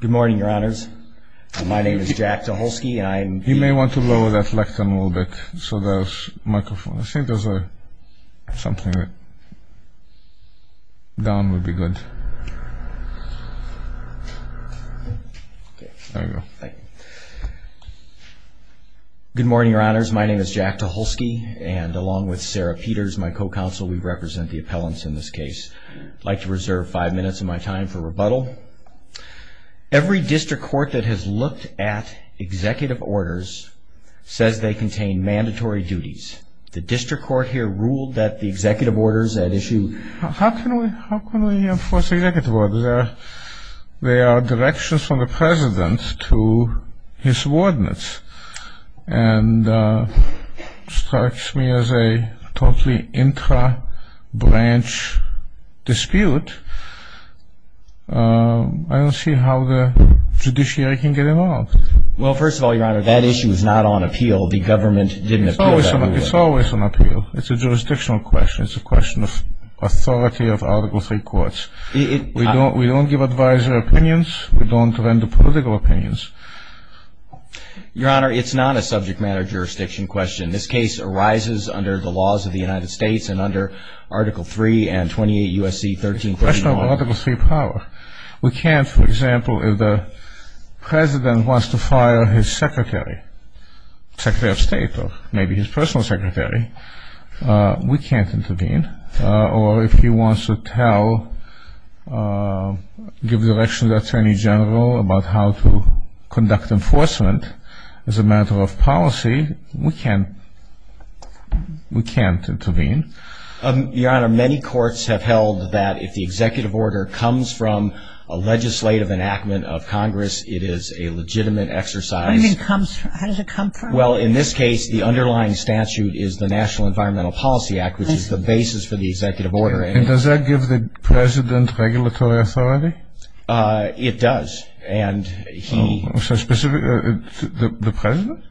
Good morning, your honors. My name is Jack Tucholsky, and I'm... You may want to lower that lectern a little bit, so there's a microphone. I think there's a... something... Down would be good. There you go. Good morning, your honors. My name is Jack Tucholsky, and along with Sarah Peters, my co-counsel, we represent the appellants in this case. I'd like to reserve five minutes of my time for rebuttal. Every district court that has looked at executive orders says they contain mandatory duties. The district court here ruled that the executive orders at issue... How can we enforce executive orders? There are directions from the president to his ordinates, and it strikes me as a totally intra-branch dispute. I don't see how the judiciary can get involved. Well, first of all, your honor, that issue is not on appeal. The government didn't appeal that rule. It's always on appeal. It's a jurisdictional question. It's a question of authority of Article 3 courts. We don't give advisor opinions. We don't render political opinions. Your honor, it's not a subject matter jurisdiction question. This case arises under the laws of the United States and under Article 3 and 28 U.S.C. 1349. It's a question of Article 3 power. We can't, for example, if the president wants to fire his secretary, secretary of state, or maybe his personal secretary, we can't intervene. Or if he wants to tell, give direction to the attorney general about how to conduct enforcement as a matter of policy, we can't intervene. Your honor, many courts have held that if the executive order comes from a legislative enactment of Congress, it is a legitimate exercise. How does it come from? Well, in this case, the underlying statute is the National Environmental Policy Act, which is the basis for the executive order. And does that give the president regulatory authority? It does. Specifically, the president?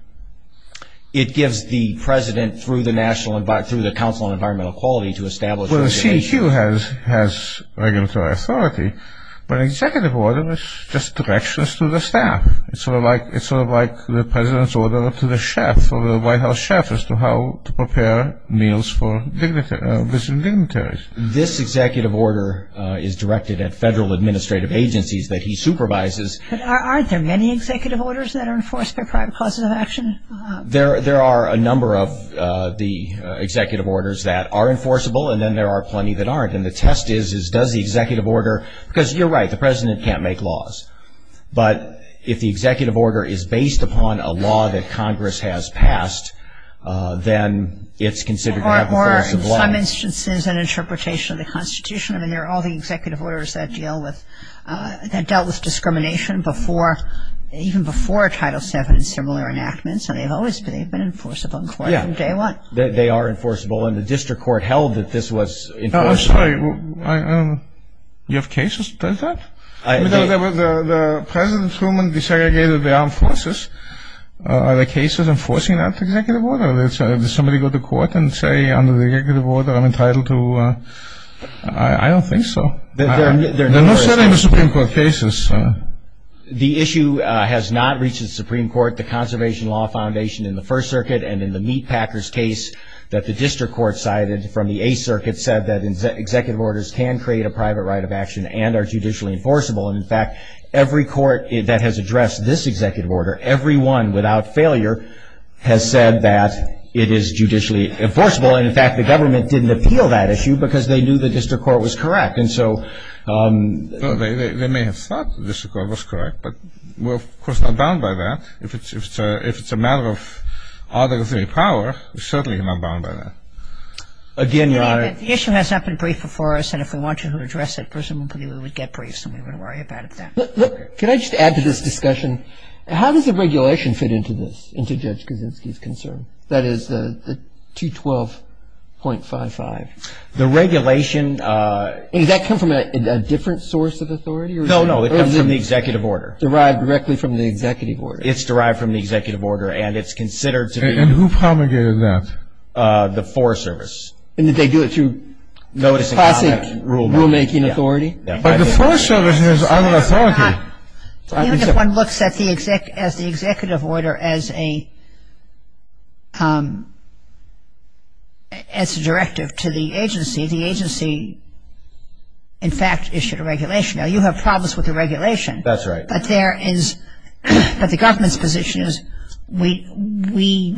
It gives the president, through the Council on Environmental Quality, to establish Well, the CEQ has regulatory authority, but an executive order is just directions to the staff. It's sort of like the president's order to the chef or the White House chef as to how to prepare meals for visiting dignitaries. This executive order is directed at federal administrative agencies that he supervises. But aren't there many executive orders that are enforced by private causes of action? There are a number of the executive orders that are enforceable, and then there are plenty that aren't. And the test is, does the executive order, because you're right, the president can't make laws. But if the executive order is based upon a law that Congress has passed, then it's considered to have enforceable laws. Or, in some instances, an interpretation of the Constitution. I mean, there are all the executive orders that dealt with discrimination even before Title VII and similar enactments, and they've always been enforceable in court from day one. Yeah, they are enforceable, and the district court held that this was enforceable. No, I'm sorry, you have cases that does that? The President Truman desegregated the armed forces. Are the cases enforcing that executive order? Does somebody go to court and say, under the executive order, I'm entitled to... I don't think so. The issue has not reached the Supreme Court. The Conservation Law Foundation in the First Circuit and in the Meatpackers case that the district court cited from the Eighth Circuit said that executive orders can create a private right of action and are judicially enforceable. And, in fact, every court that has addressed this executive order, every one without failure, has said that it is judicially enforceable. And, in fact, the government didn't appeal that issue because they knew the district court was correct. And so... No, they may have thought the district court was correct, but we're, of course, not bound by that. If it's a matter of arbitrary power, we're certainly not bound by that. Again, Your Honor... The issue has not been briefed before us, and if we want you to address it, presumably we would get briefed, and we wouldn't worry about it then. Look, can I just add to this discussion, how does the regulation fit into this, into Judge Kaczynski's concern? That is the 212.55. The regulation... And does that come from a different source of authority? No, no, it comes from the executive order. Derived directly from the executive order. It's derived from the executive order, and it's considered to be... And who promulgated that? The Forest Service. And did they do it through classic rulemaking authority? But the Forest Service has other authority. Even if one looks at the executive order as a directive to the agency, the agency, in fact, issued a regulation. Now, you have problems with the regulation. That's right. But there is... But the government's position is, we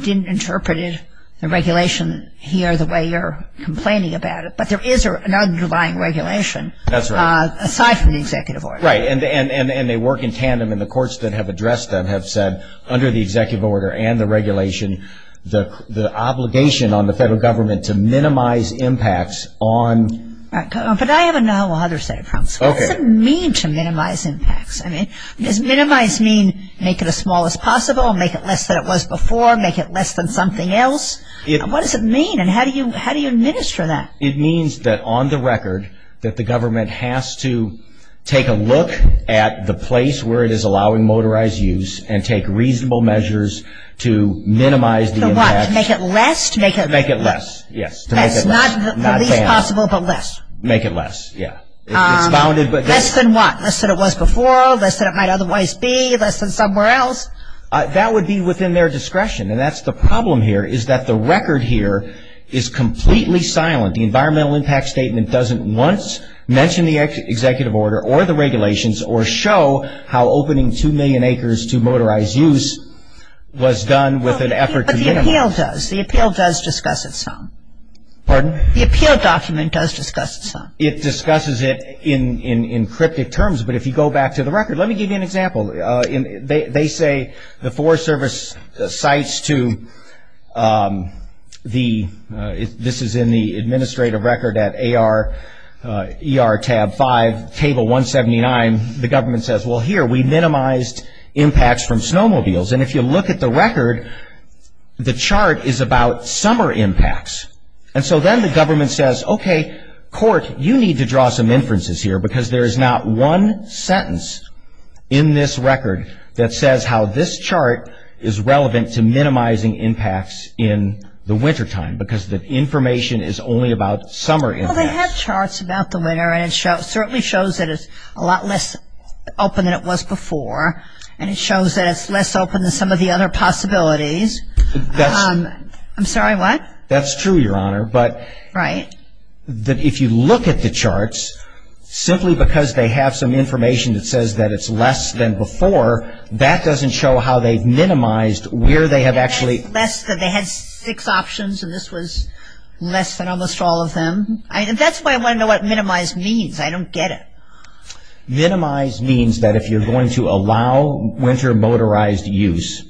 didn't interpret the regulation here the way you're complaining about it. But there is an underlying regulation. That's right. Aside from the executive order. Right. And they work in tandem, and the courts that have addressed them have said, under the executive order and the regulation, the obligation on the federal government to minimize impacts on... But I have another set of problems. Okay. What does it mean to minimize impacts? I mean, does minimize mean make it as small as possible, make it less than it was before, make it less than something else? What does it mean, and how do you administer that? It means that, on the record, that the government has to take a look at the place where it is allowing motorized use and take reasonable measures to minimize the impact. To what? To make it less? To make it less. Yes. To make it less. Not the least possible, but less. Make it less. Yeah. Less than what? Less than it was before, less than it might otherwise be, less than somewhere else. That would be within their discretion, and that's the problem here is that the record here is completely silent. The environmental impact statement doesn't once mention the executive order or the regulations or show how opening 2 million acres to motorized use was done with an effort to minimize. But the appeal does. The appeal does discuss it some. Pardon? The appeal document does discuss it some. It discusses it in cryptic terms. But if you go back to the record, let me give you an example. They say the Forest Service cites to the ‑‑ this is in the administrative record at AR tab 5, table 179. The government says, well, here, we minimized impacts from snowmobiles. And if you look at the record, the chart is about summer impacts. And so then the government says, okay, court, you need to draw some inferences here because there is not one sentence in this record that says how this chart is relevant to minimizing impacts in the wintertime because the information is only about summer impacts. Well, they have charts about the winter, and it certainly shows that it's a lot less open than it was before, and it shows that it's less open than some of the other possibilities. I'm sorry, what? That's true, Your Honor. Right. But if you look at the charts, simply because they have some information that says that it's less than before, that doesn't show how they've minimized where they have actually ‑‑ Less than they had six options, and this was less than almost all of them. That's why I want to know what minimize means. I don't get it. Minimize means that if you're going to allow winter motorized use,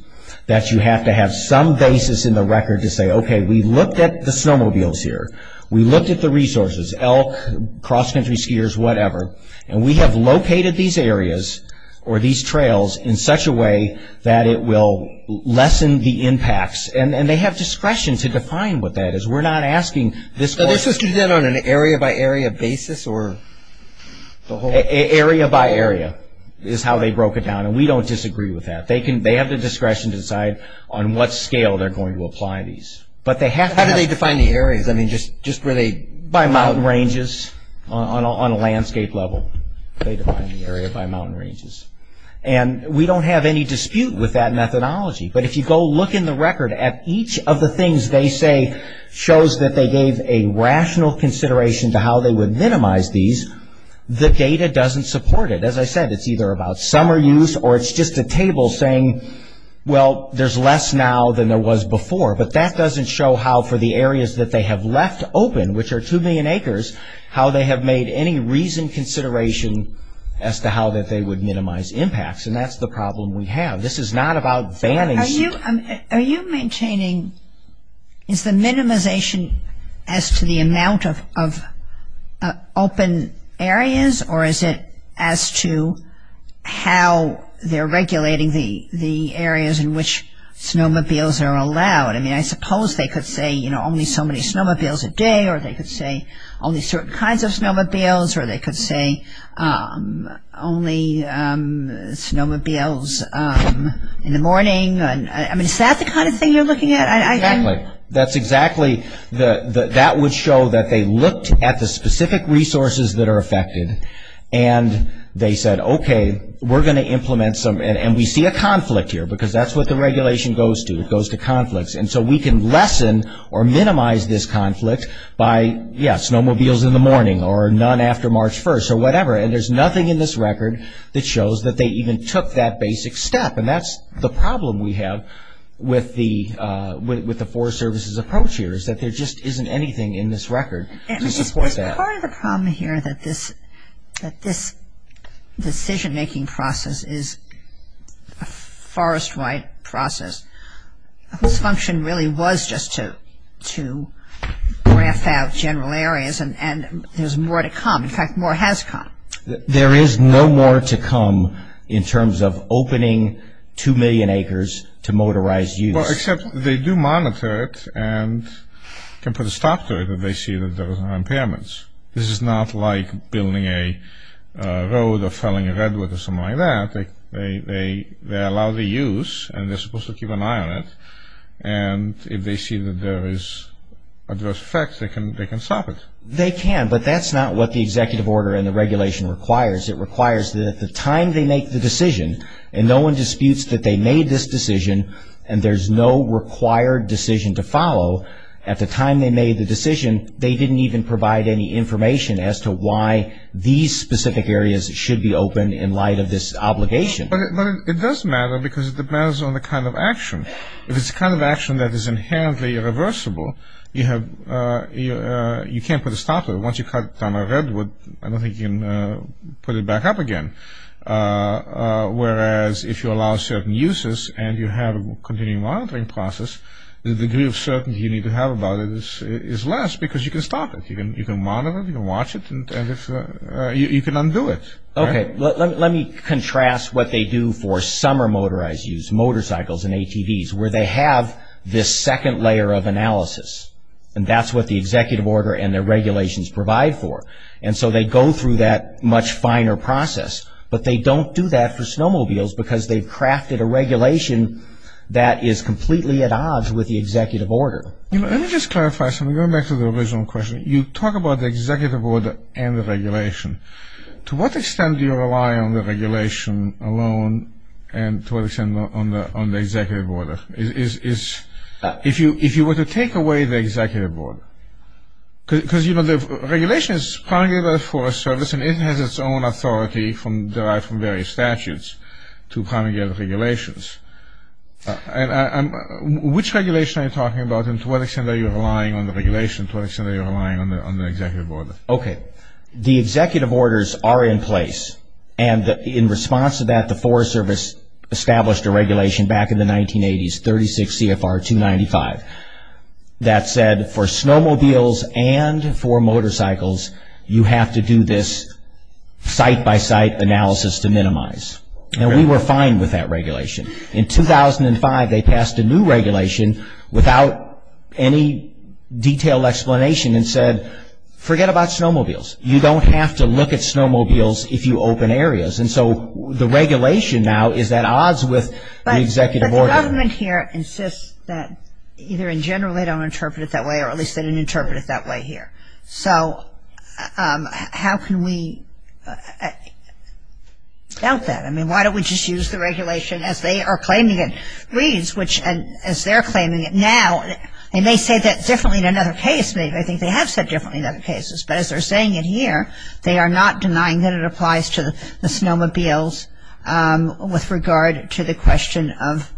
that you have to have some basis in the record to say, okay, we looked at the snowmobiles here. We looked at the resources, elk, cross-country skiers, whatever, and we have located these areas or these trails in such a way that it will lessen the impacts, and they have discretion to define what that is. We're not asking this court ‑‑ So they just do that on an area by area basis, or the whole ‑‑ Area by area is how they broke it down, and we don't disagree with that. They have the discretion to decide on what scale they're going to apply these, but they have to have ‑‑ How do they define the areas? I mean, just where they ‑‑ By mountain ranges on a landscape level. They define the area by mountain ranges, and we don't have any dispute with that methodology, but if you go look in the record at each of the things they say shows that they gave a rational consideration to how they would minimize these, the data doesn't support it. As I said, it's either about summer use or it's just a table saying, well, there's less now than there was before, but that doesn't show how for the areas that they have left open, which are 2 million acres, how they have made any reasoned consideration as to how that they would minimize impacts, and that's the problem we have. This is not about banning ‑‑ Are you maintaining ‑‑ as to the amount of open areas, or is it as to how they're regulating the areas in which snowmobiles are allowed? I mean, I suppose they could say, you know, only so many snowmobiles a day, or they could say only certain kinds of snowmobiles, or they could say only snowmobiles in the morning. I mean, is that the kind of thing you're looking at? Exactly. That's exactly, that would show that they looked at the specific resources that are affected, and they said, okay, we're going to implement some, and we see a conflict here because that's what the regulation goes to, it goes to conflicts, and so we can lessen or minimize this conflict by, yes, snowmobiles in the morning, or none after March 1st, or whatever, and there's nothing in this record that shows that they even took that basic step, and that's the problem we have with the Forest Service's approach here, is that there just isn't anything in this record to support that. I mean, is part of the problem here that this decision‑making process is a forest‑wide process, whose function really was just to graph out general areas, and there's more to come, in fact, more has come. There is no more to come in terms of opening two million acres to motorized use. Well, except they do monitor it and can put a stop to it if they see that there are impairments. This is not like building a road or felling a redwood or something like that. They allow the use, and they're supposed to keep an eye on it, and if they see that there is adverse effects, they can stop it. They can, but that's not what the executive order and the regulation requires. It requires that at the time they make the decision, and no one disputes that they made this decision and there's no required decision to follow, at the time they made the decision, they didn't even provide any information as to why these specific areas should be open in light of this obligation. But it does matter because it depends on the kind of action. If it's a kind of action that is inherently irreversible, you can't put a stop to it. Once you cut down a redwood, I don't think you can put it back up again. Whereas if you allow certain uses and you have a continuing monitoring process, the degree of certainty you need to have about it is less because you can stop it. You can monitor it, you can watch it, and you can undo it. Okay, let me contrast what they do for summer motorized use, motorcycles and ATVs, where they have this second layer of analysis, and that's what the executive order and the regulations provide for. And so they go through that much finer process, but they don't do that for snowmobiles because they've crafted a regulation that is completely at odds with the executive order. Let me just clarify something, going back to the original question. You talk about the executive order and the regulation. To what extent do you rely on the regulation alone and to what extent on the executive order? If you were to take away the executive order, because the regulation is primarily for a service and it has its own authority derived from various statutes to primarily get regulations. Which regulation are you talking about and to what extent are you relying on the regulation and to what extent are you relying on the executive order? Okay, the executive orders are in place and in response to that, the Forest Service established a regulation back in the 1980s, 36 CFR 295, that said for snowmobiles and for motorcycles, you have to do this site-by-site analysis to minimize. And we were fine with that regulation. In 2005, they passed a new regulation without any detailed explanation and said, forget about snowmobiles. You don't have to look at snowmobiles if you open areas. And so the regulation now is at odds with the executive order. But the government here insists that either in general they don't interpret it that way or at least they didn't interpret it that way here. So how can we doubt that? I mean, why don't we just use the regulation as they are claiming it reads, which as they're claiming it now, they may say that differently in another case. I think they have said differently in other cases. But as they're saying it here, they are not denying that it applies to the snowmobiles with regard to the question of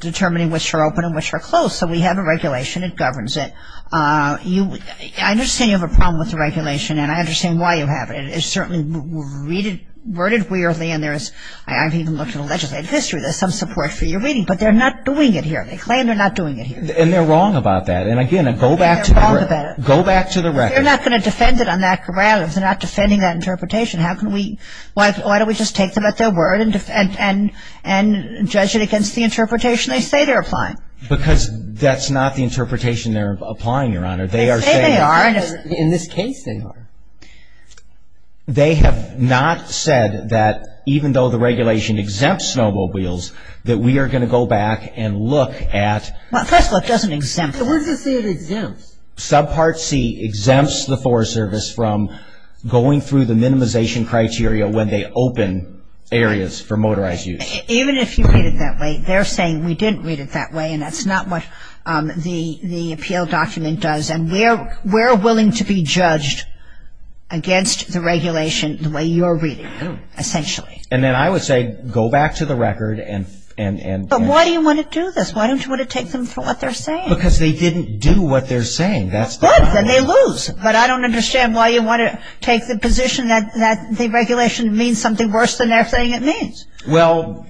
determining which are open and which are closed. So we have a regulation. It governs it. I understand you have a problem with the regulation, and I understand why you have it. It's certainly worded weirdly, and I've even looked at the legislative history. There's some support for your reading, but they're not doing it here. They claim they're not doing it here. And they're wrong about that. And, again, go back to the record. They're not going to defend it on that ground if they're not defending that interpretation. How can we – why don't we just take them at their word and judge it against the interpretation they say they're applying? Because that's not the interpretation they're applying, Your Honor. They say they are. In this case, they are. They have not said that even though the regulation exempts snowmobiles, that we are going to go back and look at – Well, first of all, it doesn't exempt them. But what does it say it exempts? Subpart C exempts the Forest Service from going through the minimization criteria when they open areas for motorized use. Even if you read it that way, they're saying we didn't read it that way, and that's not what the appeal document does. And we're willing to be judged against the regulation the way you're reading it, essentially. And then I would say go back to the record and – But why do you want to do this? Why don't you want to take them for what they're saying? Because they didn't do what they're saying. Good. Then they lose. But I don't understand why you want to take the position that the regulation means something worse than they're saying it means. Well,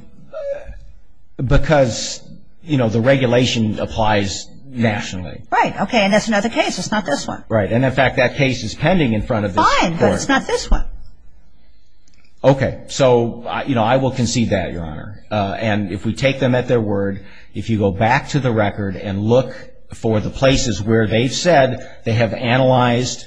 because, you know, the regulation applies nationally. Right. Okay. And that's another case. It's not this one. Right. And, in fact, that case is pending in front of this court. Fine. But it's not this one. Okay. So, you know, I will concede that, Your Honor. And if we take them at their word, if you go back to the record and look for the places where they've said they have analyzed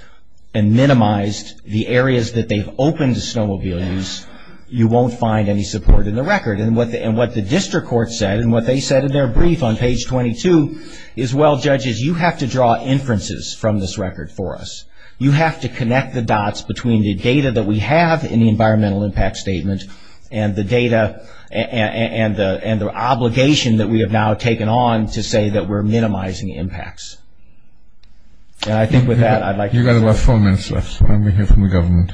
and minimized the areas that they've opened to snowmobile use, you won't find any support in the record. And what the district court said and what they said in their brief on page 22 is, well, judges, you have to draw inferences from this record for us. You have to connect the dots between the data that we have in the environmental impact statement and the data and the obligation that we have now taken on to say that we're minimizing impacts. And I think with that I'd like to say. You've got about four minutes left. Let me hear from the government.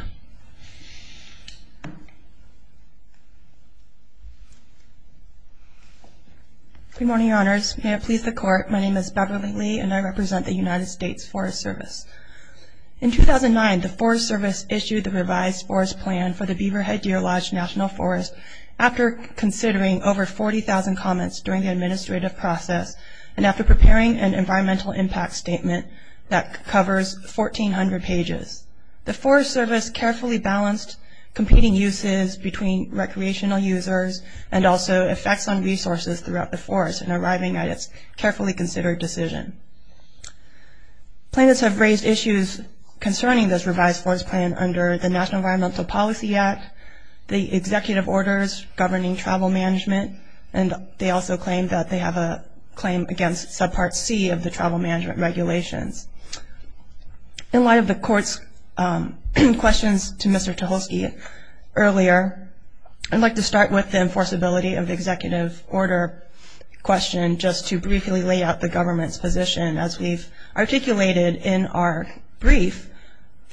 Good morning, Your Honors. May it please the court, my name is Beverly Lee, and I represent the United States Forest Service. In 2009, the Forest Service issued the revised forest plan for the Beaverhead Deer Lodge National Forest after considering over 40,000 comments during the administrative process and after preparing an environmental impact statement that covers 1,400 pages. The Forest Service carefully balanced competing uses between recreational users and also effects on resources throughout the forest in arriving at its carefully considered decision. Plaintiffs have raised issues concerning this revised forest plan under the National Environmental Policy Act, the executive orders governing travel management, and they also claim that they have a claim against subpart C of the travel management regulations. In light of the court's questions to Mr. Tucholsky earlier, I'd like to start with the enforceability of the executive order question just to briefly lay out the government's position. As we've articulated in our brief,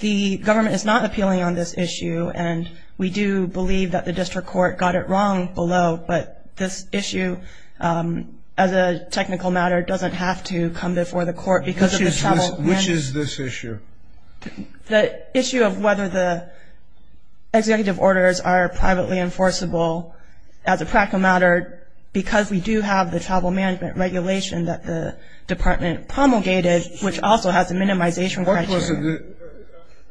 the government is not appealing on this issue, and we do believe that the district court got it wrong below, but this issue as a technical matter doesn't have to come before the court because of the travel plan. Which is this issue? The issue of whether the executive orders are privately enforceable as a practical matter because we do have the travel management regulation that the department promulgated, which also has a minimization criteria.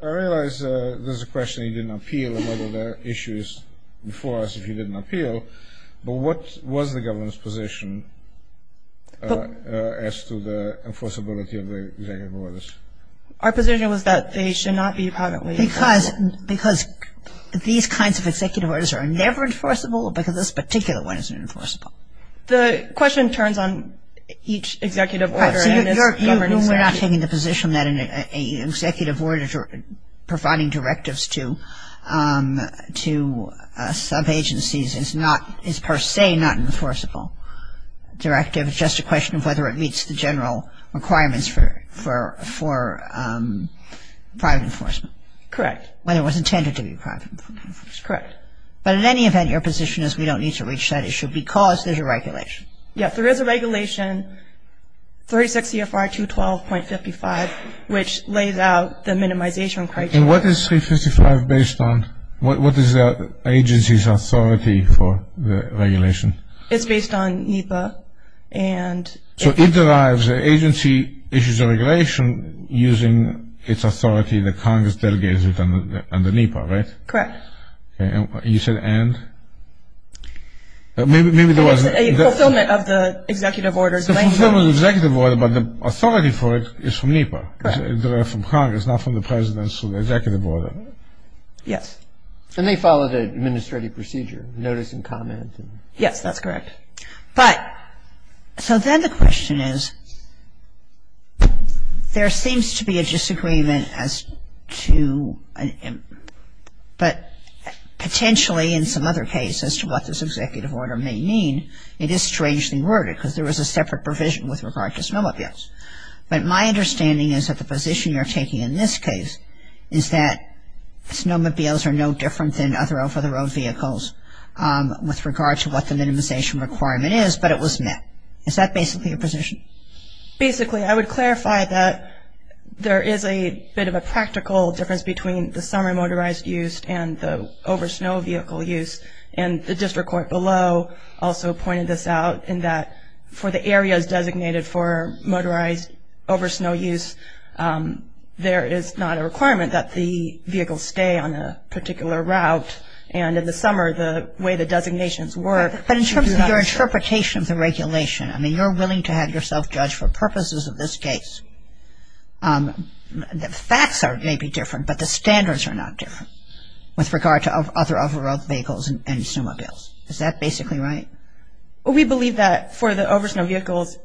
I realize there's a question you didn't appeal and whether the issue is before us if you didn't appeal, but what was the government's position as to the enforceability of the executive orders? Our position was that they should not be privately enforceable. Because these kinds of executive orders are never enforceable because this particular one isn't enforceable. The question turns on each executive order. So you're not taking the position that an executive order providing directives to subagencies is per se not an enforceable directive. It's just a question of whether it meets the general requirements for private enforcement. Correct. Whether it was intended to be private enforcement. Correct. But in any event, your position is we don't need to reach that issue because there's a regulation. Yes, there is a regulation, 36 CFR 212.55, which lays out the minimization criteria. And what is 355 based on? What is the agency's authority for the regulation? It's based on NEPA and... So it derives, the agency issues a regulation using its authority that Congress delegates it under NEPA, right? Correct. You said and? Maybe there was... A fulfillment of the executive order. A fulfillment of the executive order, but the authority for it is from NEPA. Correct. So it derives from Congress, not from the presidential executive order. Yes. And they follow the administrative procedure, notice and comment. Yes, that's correct. But, so then the question is, there seems to be a disagreement as to, but potentially in some other cases as to what this executive order may mean, it is strangely worded because there was a separate provision with regard to smell abuse. But my understanding is that the position you're taking in this case is that snowmobiles are no different than other over-the-road vehicles with regard to what the minimization requirement is, but it was met. Is that basically your position? Basically, I would clarify that there is a bit of a practical difference between the summer motorized use and the over-snow vehicle use. And the district court below also pointed this out in that for the areas designated for motorized over-snow use, there is not a requirement that the vehicles stay on a particular route. And in the summer, the way the designations work. But in terms of your interpretation of the regulation, I mean, you're willing to have yourself judged for purposes of this case. The facts may be different, but the standards are not different with regard to other over-the-road vehicles and snowmobiles. Is that basically right? We believe that for the over-snow vehicles,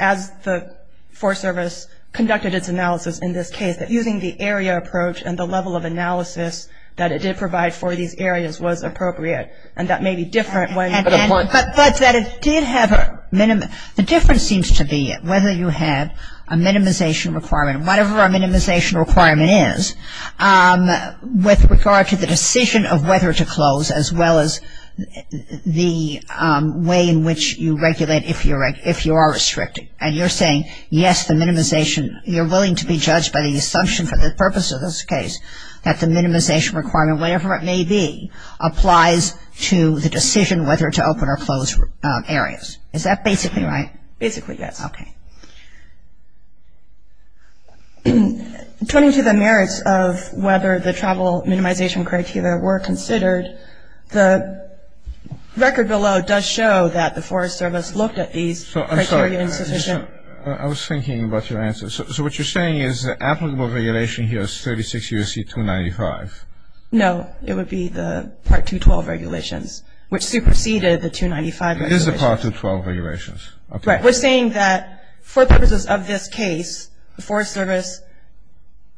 as the Forest Service conducted its analysis in this case, that using the area approach and the level of analysis that it did provide for these areas was appropriate. And that may be different when. But that it did have a minimum. The difference seems to be whether you had a minimization requirement, whatever our minimization requirement is, with regard to the decision of whether to close as well as the way in which you regulate if you are restricting. And you're saying, yes, the minimization. You're willing to be judged by the assumption for the purpose of this case that the minimization requirement, whatever it may be, applies to the decision whether to open or close areas. Is that basically right? Basically, yes. Okay. Turning to the merits of whether the travel minimization criteria were considered, the record below does show that the Forest Service looked at these criteria. I'm sorry. I was thinking about your answer. So what you're saying is the applicable regulation here is 36 U.S.C. 295. No, it would be the Part 212 regulations, which superseded the 295 regulations. It is the Part 212 regulations. We're saying that for purposes of this case, the Forest Service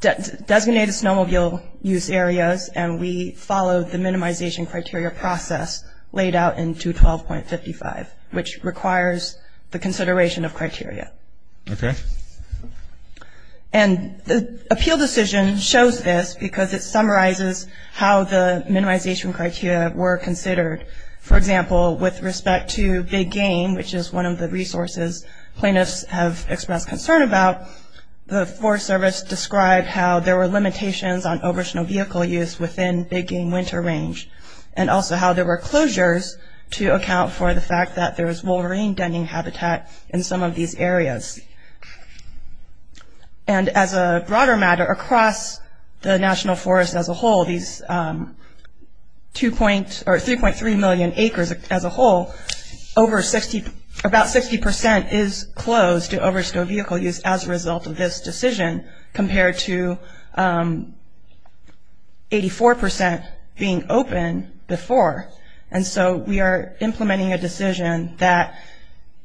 designated snowmobile use areas and we followed the minimization criteria process laid out in 212.55, which requires the consideration of criteria. Okay. And the appeal decision shows this because it summarizes how the minimization criteria were considered. For example, with respect to Big Game, which is one of the resources plaintiffs have expressed concern about, the Forest Service described how there were limitations on over-snow vehicle use within Big Game winter range and also how there were closures to account for the fact that there was wolverine denning habitat in some of these areas. And as a broader matter, across the National Forest as a whole, these 3.3 million acres as a whole, about 60% is closed to over-snow vehicle use as a result of this decision compared to 84% being open before. And so we are implementing a decision that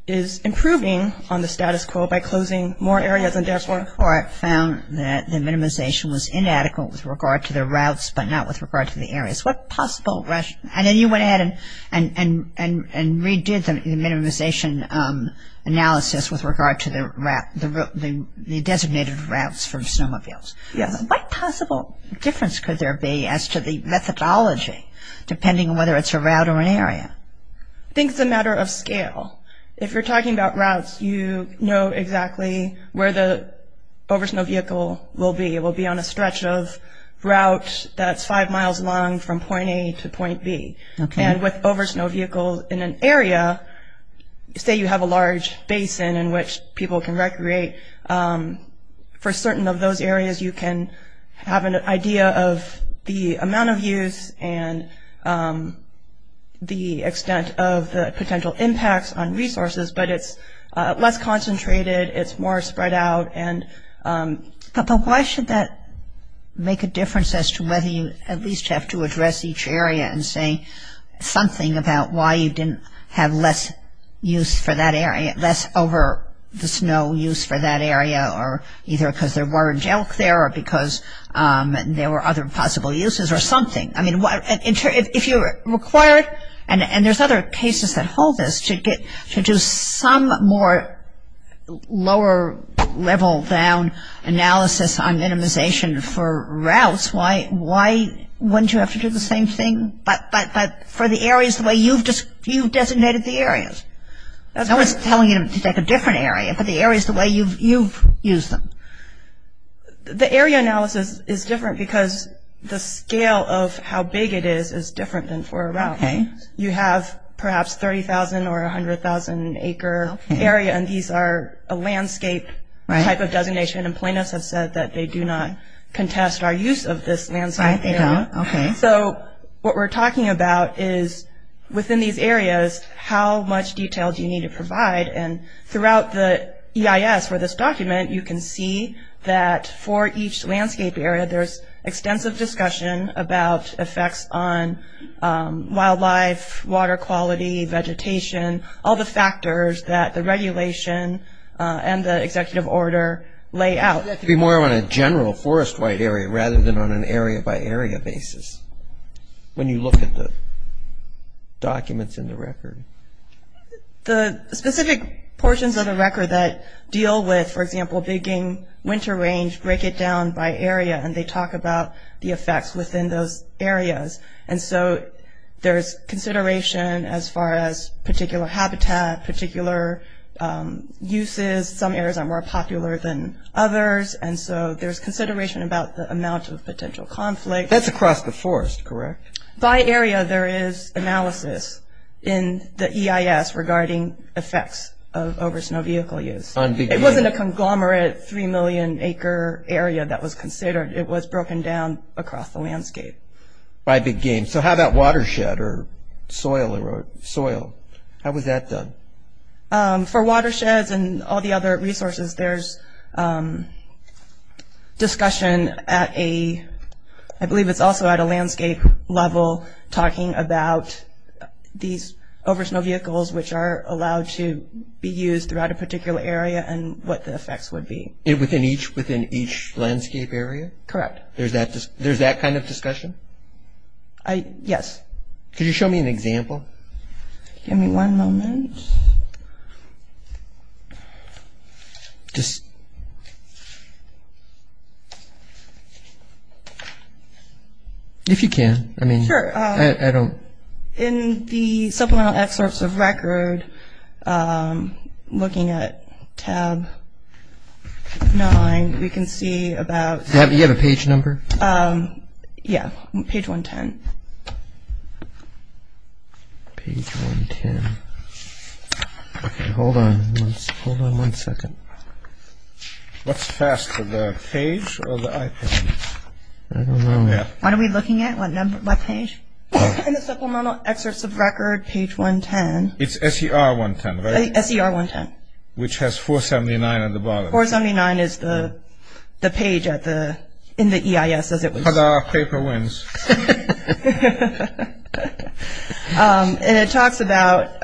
is improving on the status quo by closing more areas than before. The court found that the minimization was inadequate with regard to the routes but not with regard to the areas. What possible rationale? And then you went ahead and redid the minimization analysis with regard to the designated routes for snowmobiles. Yes. What possible difference could there be as to the methodology depending on whether it's a route or an area? I think it's a matter of scale. If you're talking about routes, you know exactly where the over-snow vehicle will be. It will be on a stretch of route that's five miles long from point A to point B. Okay. And with over-snow vehicles in an area, say you have a large basin in which people can recreate, for certain of those areas you can have an idea of the amount of use and the extent of the potential impacts on resources. But it's less concentrated. It's more spread out. But why should that make a difference as to whether you at least have to address each area and say something about why you didn't have less use for that area, less over-the-snow use for that area, or either because there weren't elk there or because there were other possible uses or something. I mean, if you're required, and there's other cases that hold this, to do some more lower level down analysis on minimization for routes, why wouldn't you have to do the same thing? But for the areas the way you've designated the areas. No one's telling you to take a different area, but the areas the way you've used them. The area analysis is different because the scale of how big it is is different than for a route. You have perhaps 30,000 or 100,000 acre area, and these are a landscape type of designation, and plaintiffs have said that they do not contest our use of this landscape area. So what we're talking about is within these areas, how much detail do you need to provide? And throughout the EIS for this document, you can see that for each landscape area, there's extensive discussion about effects on wildlife, water quality, vegetation, all the factors that the regulation and the executive order lay out. It would be more on a general forest wide area rather than on an area-by-area basis when you look at the documents in the record. The specific portions of the record that deal with, for example, digging winter range break it down by area, and they talk about the effects within those areas. And so there's consideration as far as particular habitat, particular uses. Some areas are more popular than others, and so there's consideration about the amount of potential conflict. That's across the forest, correct? By area, there is analysis in the EIS regarding effects of oversnow vehicle use. It wasn't a conglomerate three million acre area that was considered. It was broken down across the landscape. By big game. So how about watershed or soil? How was that done? For watersheds and all the other resources, there's discussion at a, I believe it's also at a landscape level, talking about these oversnow vehicles, which are allowed to be used throughout a particular area and what the effects would be. Within each landscape area? Correct. There's that kind of discussion? Yes. Could you show me an example? Give me one moment. Just. If you can. Sure. I mean, I don't. In the supplemental excerpts of record, looking at tab nine, we can see about... You have a page number? Yeah, page 110. Page 110. Okay, hold on. Hold on one second. What's faster, the page or the iPad? I don't know. What are we looking at? What page? In the supplemental excerpts of record, page 110. It's SER 110, right? SER 110. Which has 479 at the bottom. 479 is the page in the EIS as it was... But our paper wins. And it talks about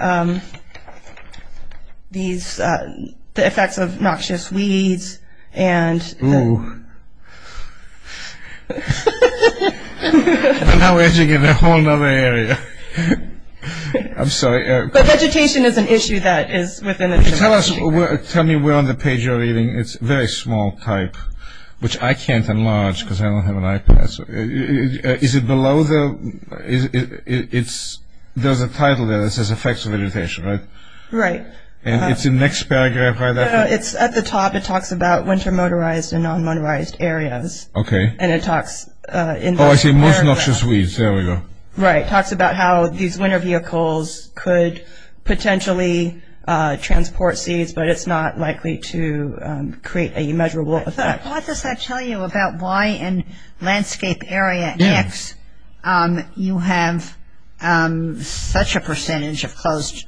the effects of noxious weeds and... Ooh. We're now edging in a whole other area. I'm sorry. But vegetation is an issue that is within... Tell me where on the page you're reading. It's very small type, which I can't enlarge because I don't have an iPad. Is it below the... There's a title there that says effects of vegetation, right? Right. And it's in the next paragraph, right? No, no, it's at the top. It talks about winter motorized and non-motorized areas. Okay. And it talks... Oh, I see most noxious weeds. There we go. Right. It talks about how these winter vehicles could potentially transport seeds, but it's not likely to create a measurable effect. Why does that tell you about why in landscape area X you have such a percentage of closed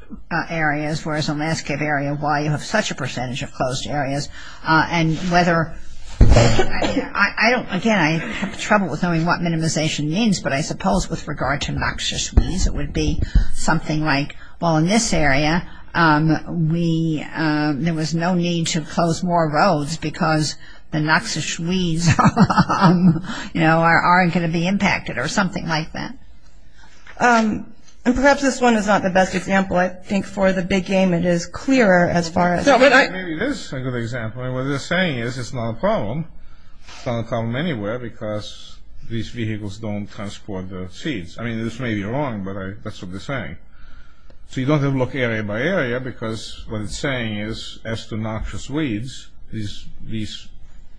areas, whereas in landscape area Y you have such a percentage of closed areas? And whether... I don't... Again, I have trouble with knowing what minimization means, but I suppose with regard to noxious weeds it would be something like, well, in this area there was no need to close more roads because the noxious weeds aren't going to be impacted or something like that. And perhaps this one is not the best example. I think for the big game it is clearer as far as... No, but I... Maybe this is a good example. What they're saying is it's not a problem. It's not a problem anywhere because these vehicles don't transport the seeds. I mean, this may be wrong, but that's what they're saying. So you don't have to look area by area because what it's saying is as to noxious weeds, these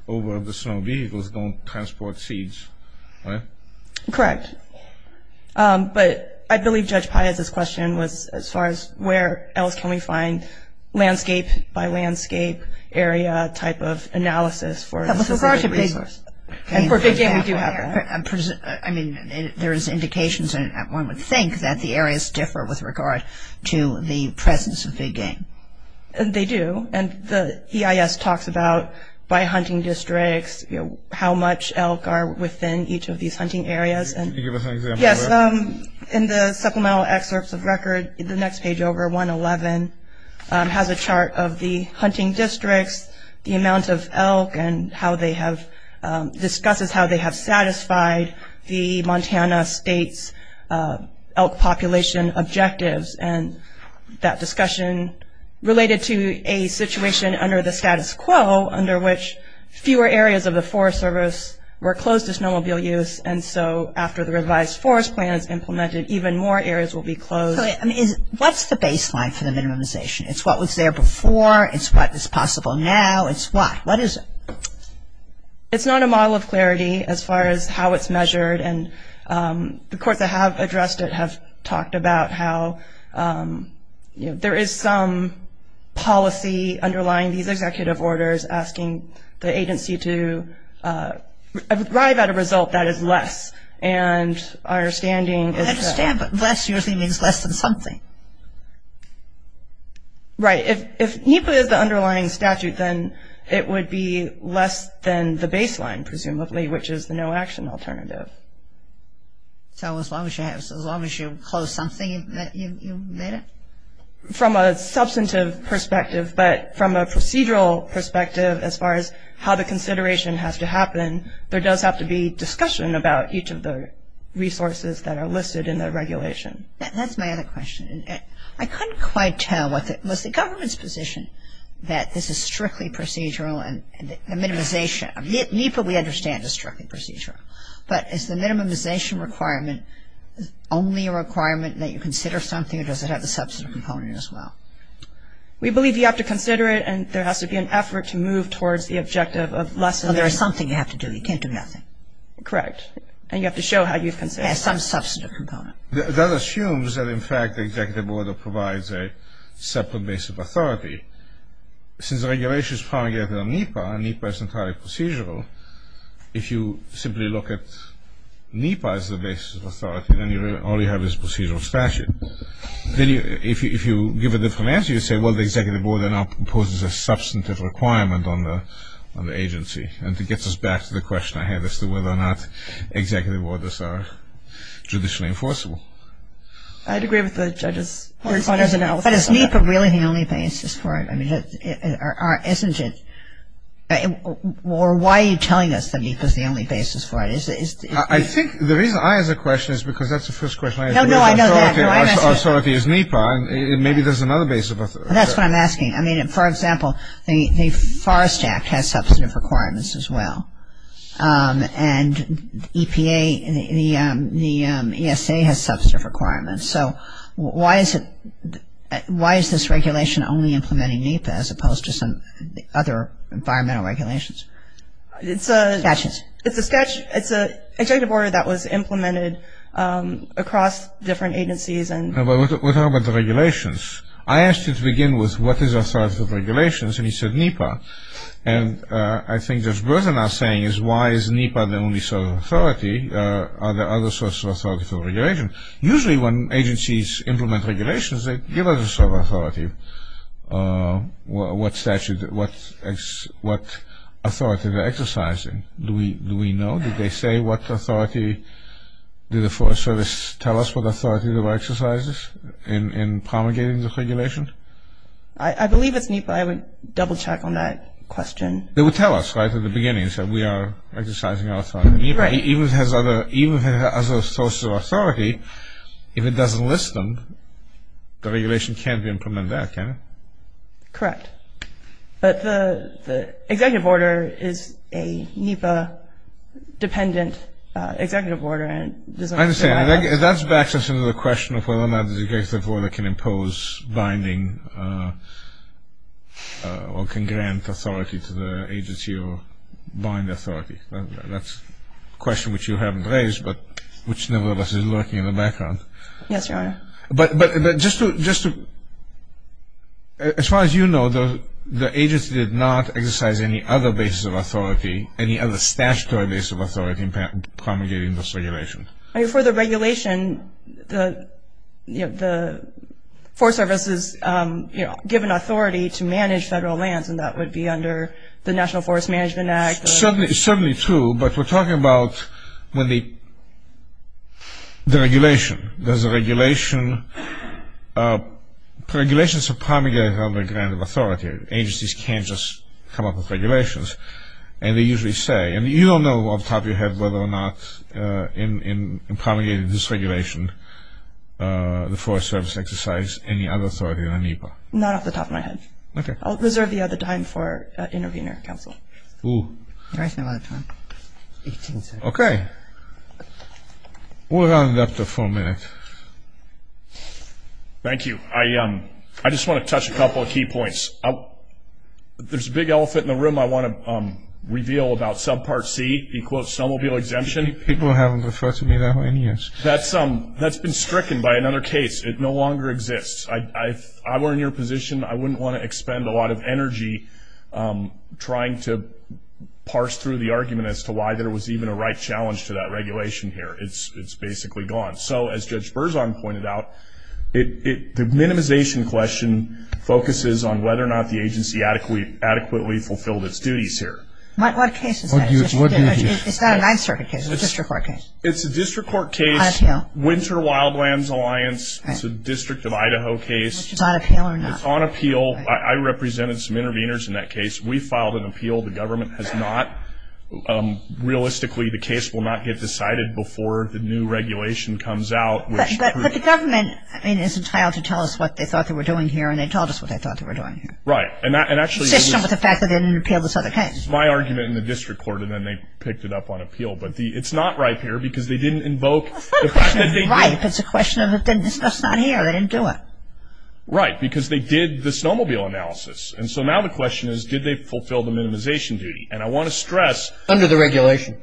over-the-snow vehicles don't transport seeds. Right? Correct. But I believe Judge Paez's question was as far as where else can we find landscape by landscape area type of analysis for... With regard to big... And for big game we do have that. I mean, there is indications, and one would think that the areas differ with regard to the presence of big game. They do, and the EIS talks about by hunting districts, how much elk are within each of these hunting areas. Can you give us an example of that? Yes. In the supplemental excerpts of record, the next page over, 111, has a chart of the hunting districts, the amount of elk, and how they have... discusses how they have satisfied the Montana State's elk population objectives, and that discussion related to a situation under the status quo, under which fewer areas of the Forest Service were closed to snowmobile use, and so after the revised forest plan is implemented, even more areas will be closed. What's the baseline for the minimization? It's what was there before. It's what is possible now. It's what? What is it? It's not a model of clarity as far as how it's measured, and the courts that have addressed it have talked about how there is some policy underlying these executive orders asking the agency to arrive at a result that is less, and our understanding is that... I understand, but less usually means less than something. Right. If NEPA is the underlying statute, then it would be less than the baseline, presumably, which is the no-action alternative. So as long as you have... as long as you close something, you've made it? From a substantive perspective, but from a procedural perspective, as far as how the consideration has to happen, there does have to be discussion about each of the resources that are listed in the regulation. That's my other question. I couldn't quite tell what the... was the government's position that this is strictly procedural and the minimization... NEPA, we understand, is strictly procedural, but is the minimization requirement only a requirement that you consider something or does it have a substantive component as well? We believe you have to consider it, and there has to be an effort to move towards the objective of less than... There is something you have to do. You can't do nothing. Correct. And you have to show how you've considered it. And some substantive component. That assumes that, in fact, the executive order provides a separate base of authority. Since the regulation is promulgated on NEPA, and NEPA is entirely procedural, if you simply look at NEPA as the base of authority, then all you have is procedural statute. Then if you give a different answer, you say, well, the executive order now imposes a substantive requirement on the agency. And it gets us back to the question I had as to whether or not executive orders are judicially enforceable. I'd agree with the judge's... But is NEPA really the only basis for it? I mean, isn't it? Or why are you telling us that NEPA is the only basis for it? I think the reason I ask the question is because that's the first question I ask. No, no, I know that. No, I'm asking... Authority is NEPA. Maybe there's another basis. That's what I'm asking. I mean, for example, the Forest Act has substantive requirements as well. And EPA, the ESA has substantive requirements. So why is this regulation only implementing NEPA as opposed to some other environmental regulations? It's a... Statutes. It's a statute. It's an executive order that was implemented across different agencies and... No, but we're talking about the regulations. I asked you to begin with what is authoritative regulations, and you said NEPA. And I think what you're now saying is why is NEPA the only source of authority? Are there other sources of authority for regulation? Usually when agencies implement regulations, they give us a source of authority. What authority are they exercising? Do we know? Did they say what authority... Did the Forest Service tell us what authority they were exercising in promulgating the regulation? I believe it's NEPA. I would double-check on that question. They would tell us, right, at the beginning. They said we are exercising our authority. Right. Even if it has other sources of authority, if it doesn't list them, the regulation can't be implemented there, can it? Correct. But the executive order is a NEPA-dependent executive order. I understand. That backs us into the question of whether or not the executive order can impose binding or can grant authority to the agency or bind authority. That's a question which you haven't raised, but which nevertheless is lurking in the background. Yes, Your Honor. But just to... As far as you know, the agency did not exercise any other basis of authority, any other statutory basis of authority in promulgating this regulation. For the regulation, the Forest Service is given authority to manage federal lands, and that would be under the National Forest Management Act. It's certainly true, but we're talking about the regulation. Does the regulation... Regulations are promulgated under a grant of authority. Agencies can't just come up with regulations. And they usually say... And you don't know off the top of your head whether or not in promulgating this regulation, the Forest Service exercised any other authority than NEPA. Not off the top of my head. Okay. I'll reserve the other time for an intervener. Counsel. Who? You're wasting a lot of time. Okay. We'll round it up to four minutes. Thank you. I just want to touch a couple of key points. There's a big elephant in the room I want to reveal about Subpart C, in quotes, snowmobile exemption. People haven't referred to me that way in years. That's been stricken by another case. It no longer exists. If I were in your position, I wouldn't want to expend a lot of energy trying to parse through the argument as to why there was even a right challenge to that regulation here. It's basically gone. So as Judge Berzon pointed out, the minimization question focuses on whether or not the agency adequately fulfilled its duties here. What case is that? It's not a Ninth Circuit case. It's a district court case. It's a district court case. Winter Wildlands Alliance. It's a district of Idaho case. Is it on appeal or not? It's on appeal. I represented some interveners in that case. We filed an appeal. The government has not. Realistically, the case will not get decided before the new regulation comes out. But the government, I mean, is entitled to tell us what they thought they were doing here, and they told us what they thought they were doing here. Right. Consistent with the fact that they didn't appeal this other case. It's my argument in the district court, and then they picked it up on appeal. But it's not right here because they didn't invoke the fact that they did. Right. If it's a question that's not here, they didn't do it. Right. Because they did the snowmobile analysis. And so now the question is, did they fulfill the minimization duty? And I want to stress. Under the regulation.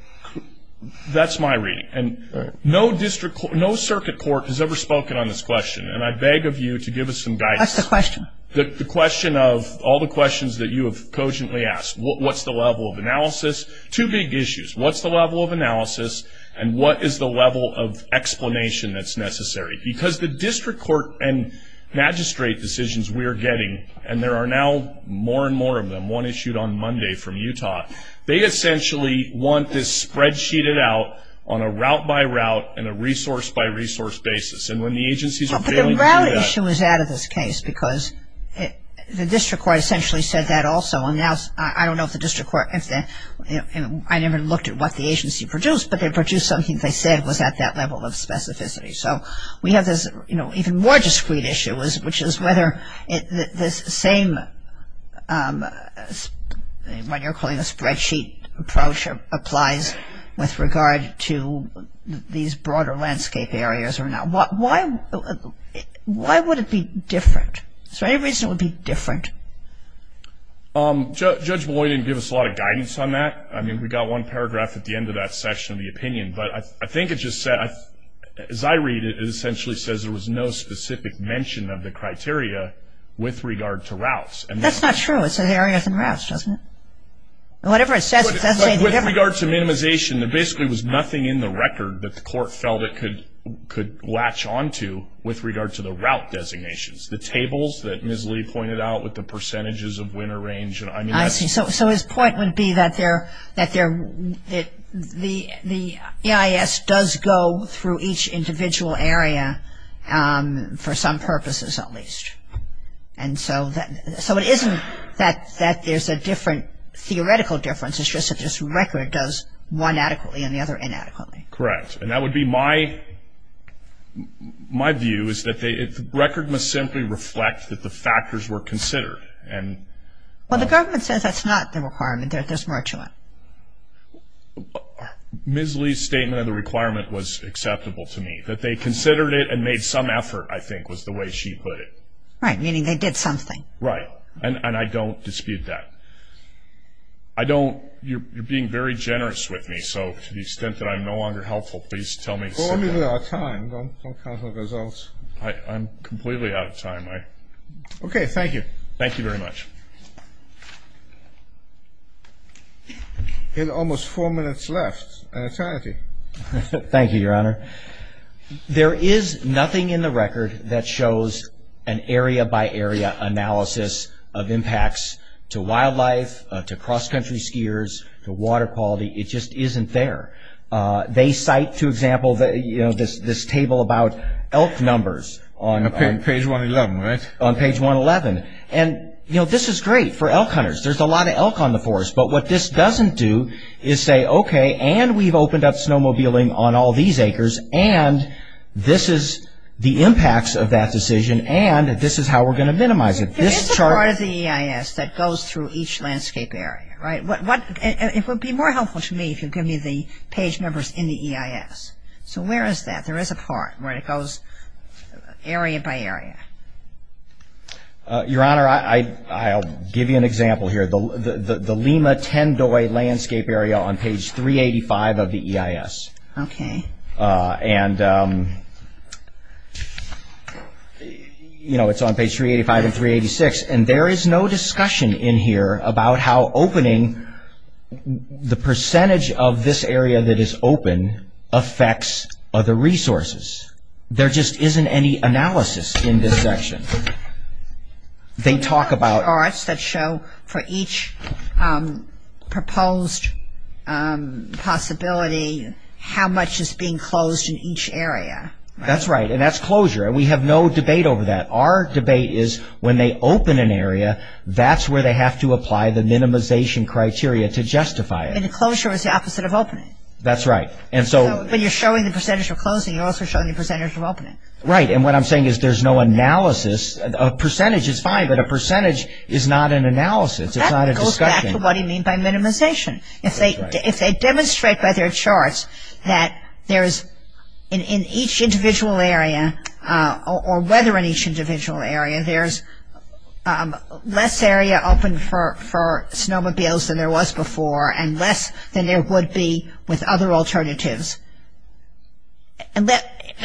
That's my reading. And no circuit court has ever spoken on this question. And I beg of you to give us some guidance. What's the question? The question of all the questions that you have cogently asked. What's the level of analysis? Two big issues. What's the level of analysis? And what is the level of explanation that's necessary? Because the district court and magistrate decisions we are getting, and there are now more and more of them, one issued on Monday from Utah, they essentially want this spreadsheetd out on a route by route and a resource by resource basis. And when the agencies are failing to do that. But the route issue was out of this case because the district court essentially said that also. And I don't know if the district court, I never looked at what the agency produced, but they produced something they said was at that level of specificity. So we have this even more discreet issue, which is whether this same what you're calling a spreadsheet approach applies with regard to these broader landscape areas or not. Why would it be different? Is there any reason it would be different? Judge Malloy didn't give us a lot of guidance on that. I mean, we got one paragraph at the end of that section of the opinion. But I think it just said, as I read it, it essentially says there was no specific mention of the criteria with regard to routes. That's not true. It says areas and routes, doesn't it? Whatever it says, it does say different. With regard to minimization, there basically was nothing in the record that the court felt it could latch onto with regard to the route designations. The tables that Ms. Lee pointed out with the percentages of winter range. I see. So his point would be that the EIS does go through each individual area, for some purposes at least. And so it isn't that there's a different theoretical difference. It's just that this record does one adequately and the other inadequately. Correct. And that would be my view, is that the record must simply reflect that the factors were considered. Well, the government says that's not the requirement. There's more to it. Ms. Lee's statement of the requirement was acceptable to me. That they considered it and made some effort, I think, was the way she put it. Right. Meaning they did something. Right. And I don't dispute that. You're being very generous with me. So to the extent that I'm no longer helpful, please tell me. We're running out of time. Don't count the results. I'm completely out of time. Okay. Thank you. Thank you very much. Almost four minutes left. An eternity. Thank you, Your Honor. There is nothing in the record that shows an area-by-area analysis of impacts to wildlife, to cross-country skiers, to water quality. It just isn't there. They cite, for example, this table about elk numbers. On page 111, right? On page 111. And, you know, this is great for elk hunters. There's a lot of elk on the forest. But what this doesn't do is say, okay, and we've opened up snowmobiling on all these acres, and this is the impacts of that decision, and this is how we're going to minimize it. There is a part of the EIS that goes through each landscape area, right? It would be more helpful to me if you give me the page numbers in the EIS. So where is that? There is a part where it goes area-by-area. Your Honor, I'll give you an example here. The Lima-Tendoy Landscape Area on page 385 of the EIS. Okay. And, you know, it's on page 385 and 386, and there is no discussion in here about how opening, the percentage of this area that is open affects other resources. There just isn't any analysis in this section. They talk about- The charts that show for each proposed possibility how much is being closed in each area. That's right, and that's closure, and we have no debate over that. Our debate is when they open an area, that's where they have to apply the minimization criteria to justify it. And the closure is the opposite of opening. That's right, and so- When you're showing the percentage of closing, you're also showing the percentage of opening. Right, and what I'm saying is there's no analysis. A percentage is fine, but a percentage is not an analysis. It's not a discussion. That goes back to what you mean by minimization. If they demonstrate by their charts that there is, in each individual area, or whether in each individual area, there's less area open for snowmobiles than there was before and less than there would be with other alternatives, I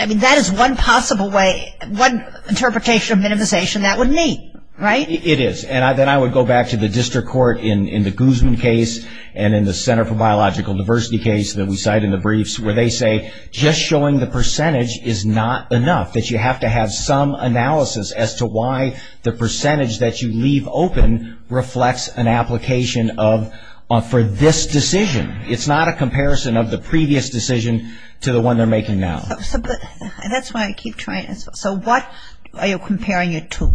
mean that is one possible way, one interpretation of minimization that would meet, right? It is, and then I would go back to the district court in the Guzman case, and in the Center for Biological Diversity case that we cite in the briefs, where they say just showing the percentage is not enough, that you have to have some analysis as to why the percentage that you leave open reflects an application for this decision. It's not a comparison of the previous decision to the one they're making now. That's why I keep trying to- So what are you comparing it to?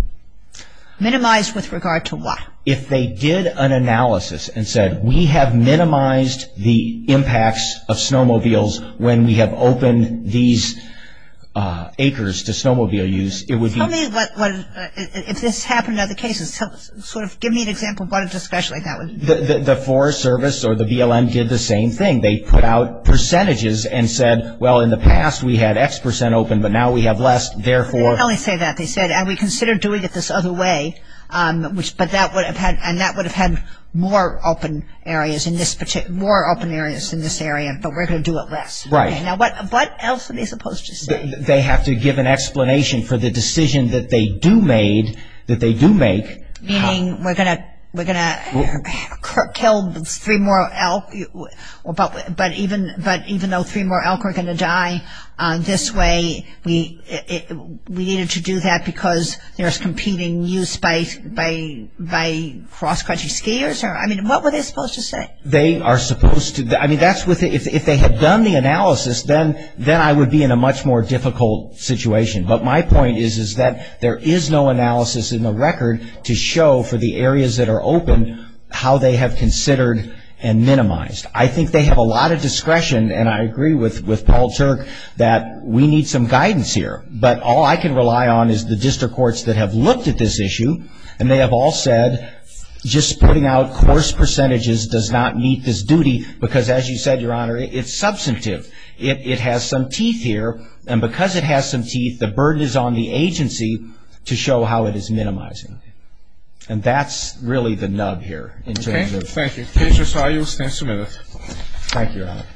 Minimize with regard to what? If they did an analysis and said we have minimized the impacts of snowmobiles when we have opened these acres to snowmobile use, it would be- Tell me what, if this happened in other cases, sort of give me an example of what a discussion like that would be. The Forest Service or the BLM did the same thing. They put out percentages and said, well, in the past we had X percent open, but now we have less, therefore- They didn't really say that. They said, and we considered doing it this other way, but that would have had more open areas in this area, but we're going to do it less. Right. Now what else are they supposed to say? They have to give an explanation for the decision that they do make- Meaning we're going to kill three more elk, but even though three more elk are going to die this way, we needed to do that because there's competing use by cross-country skiers? I mean, what were they supposed to say? They are supposed to- I mean, if they had done the analysis, then I would be in a much more difficult situation, but my point is that there is no analysis in the record to show for the areas that are open how they have considered and minimized. I think they have a lot of discretion, and I agree with Paul Turk that we need some guidance here, but all I can rely on is the district courts that have looked at this issue, and they have all said just putting out coarse percentages does not meet this duty, because as you said, Your Honor, it's substantive. It has some teeth here, and because it has some teeth, the burden is on the agency to show how it is minimizing, and that's really the nub here in terms of- Thank you. Patrice, how are you? Stand submitted. Thank you, Your Honor.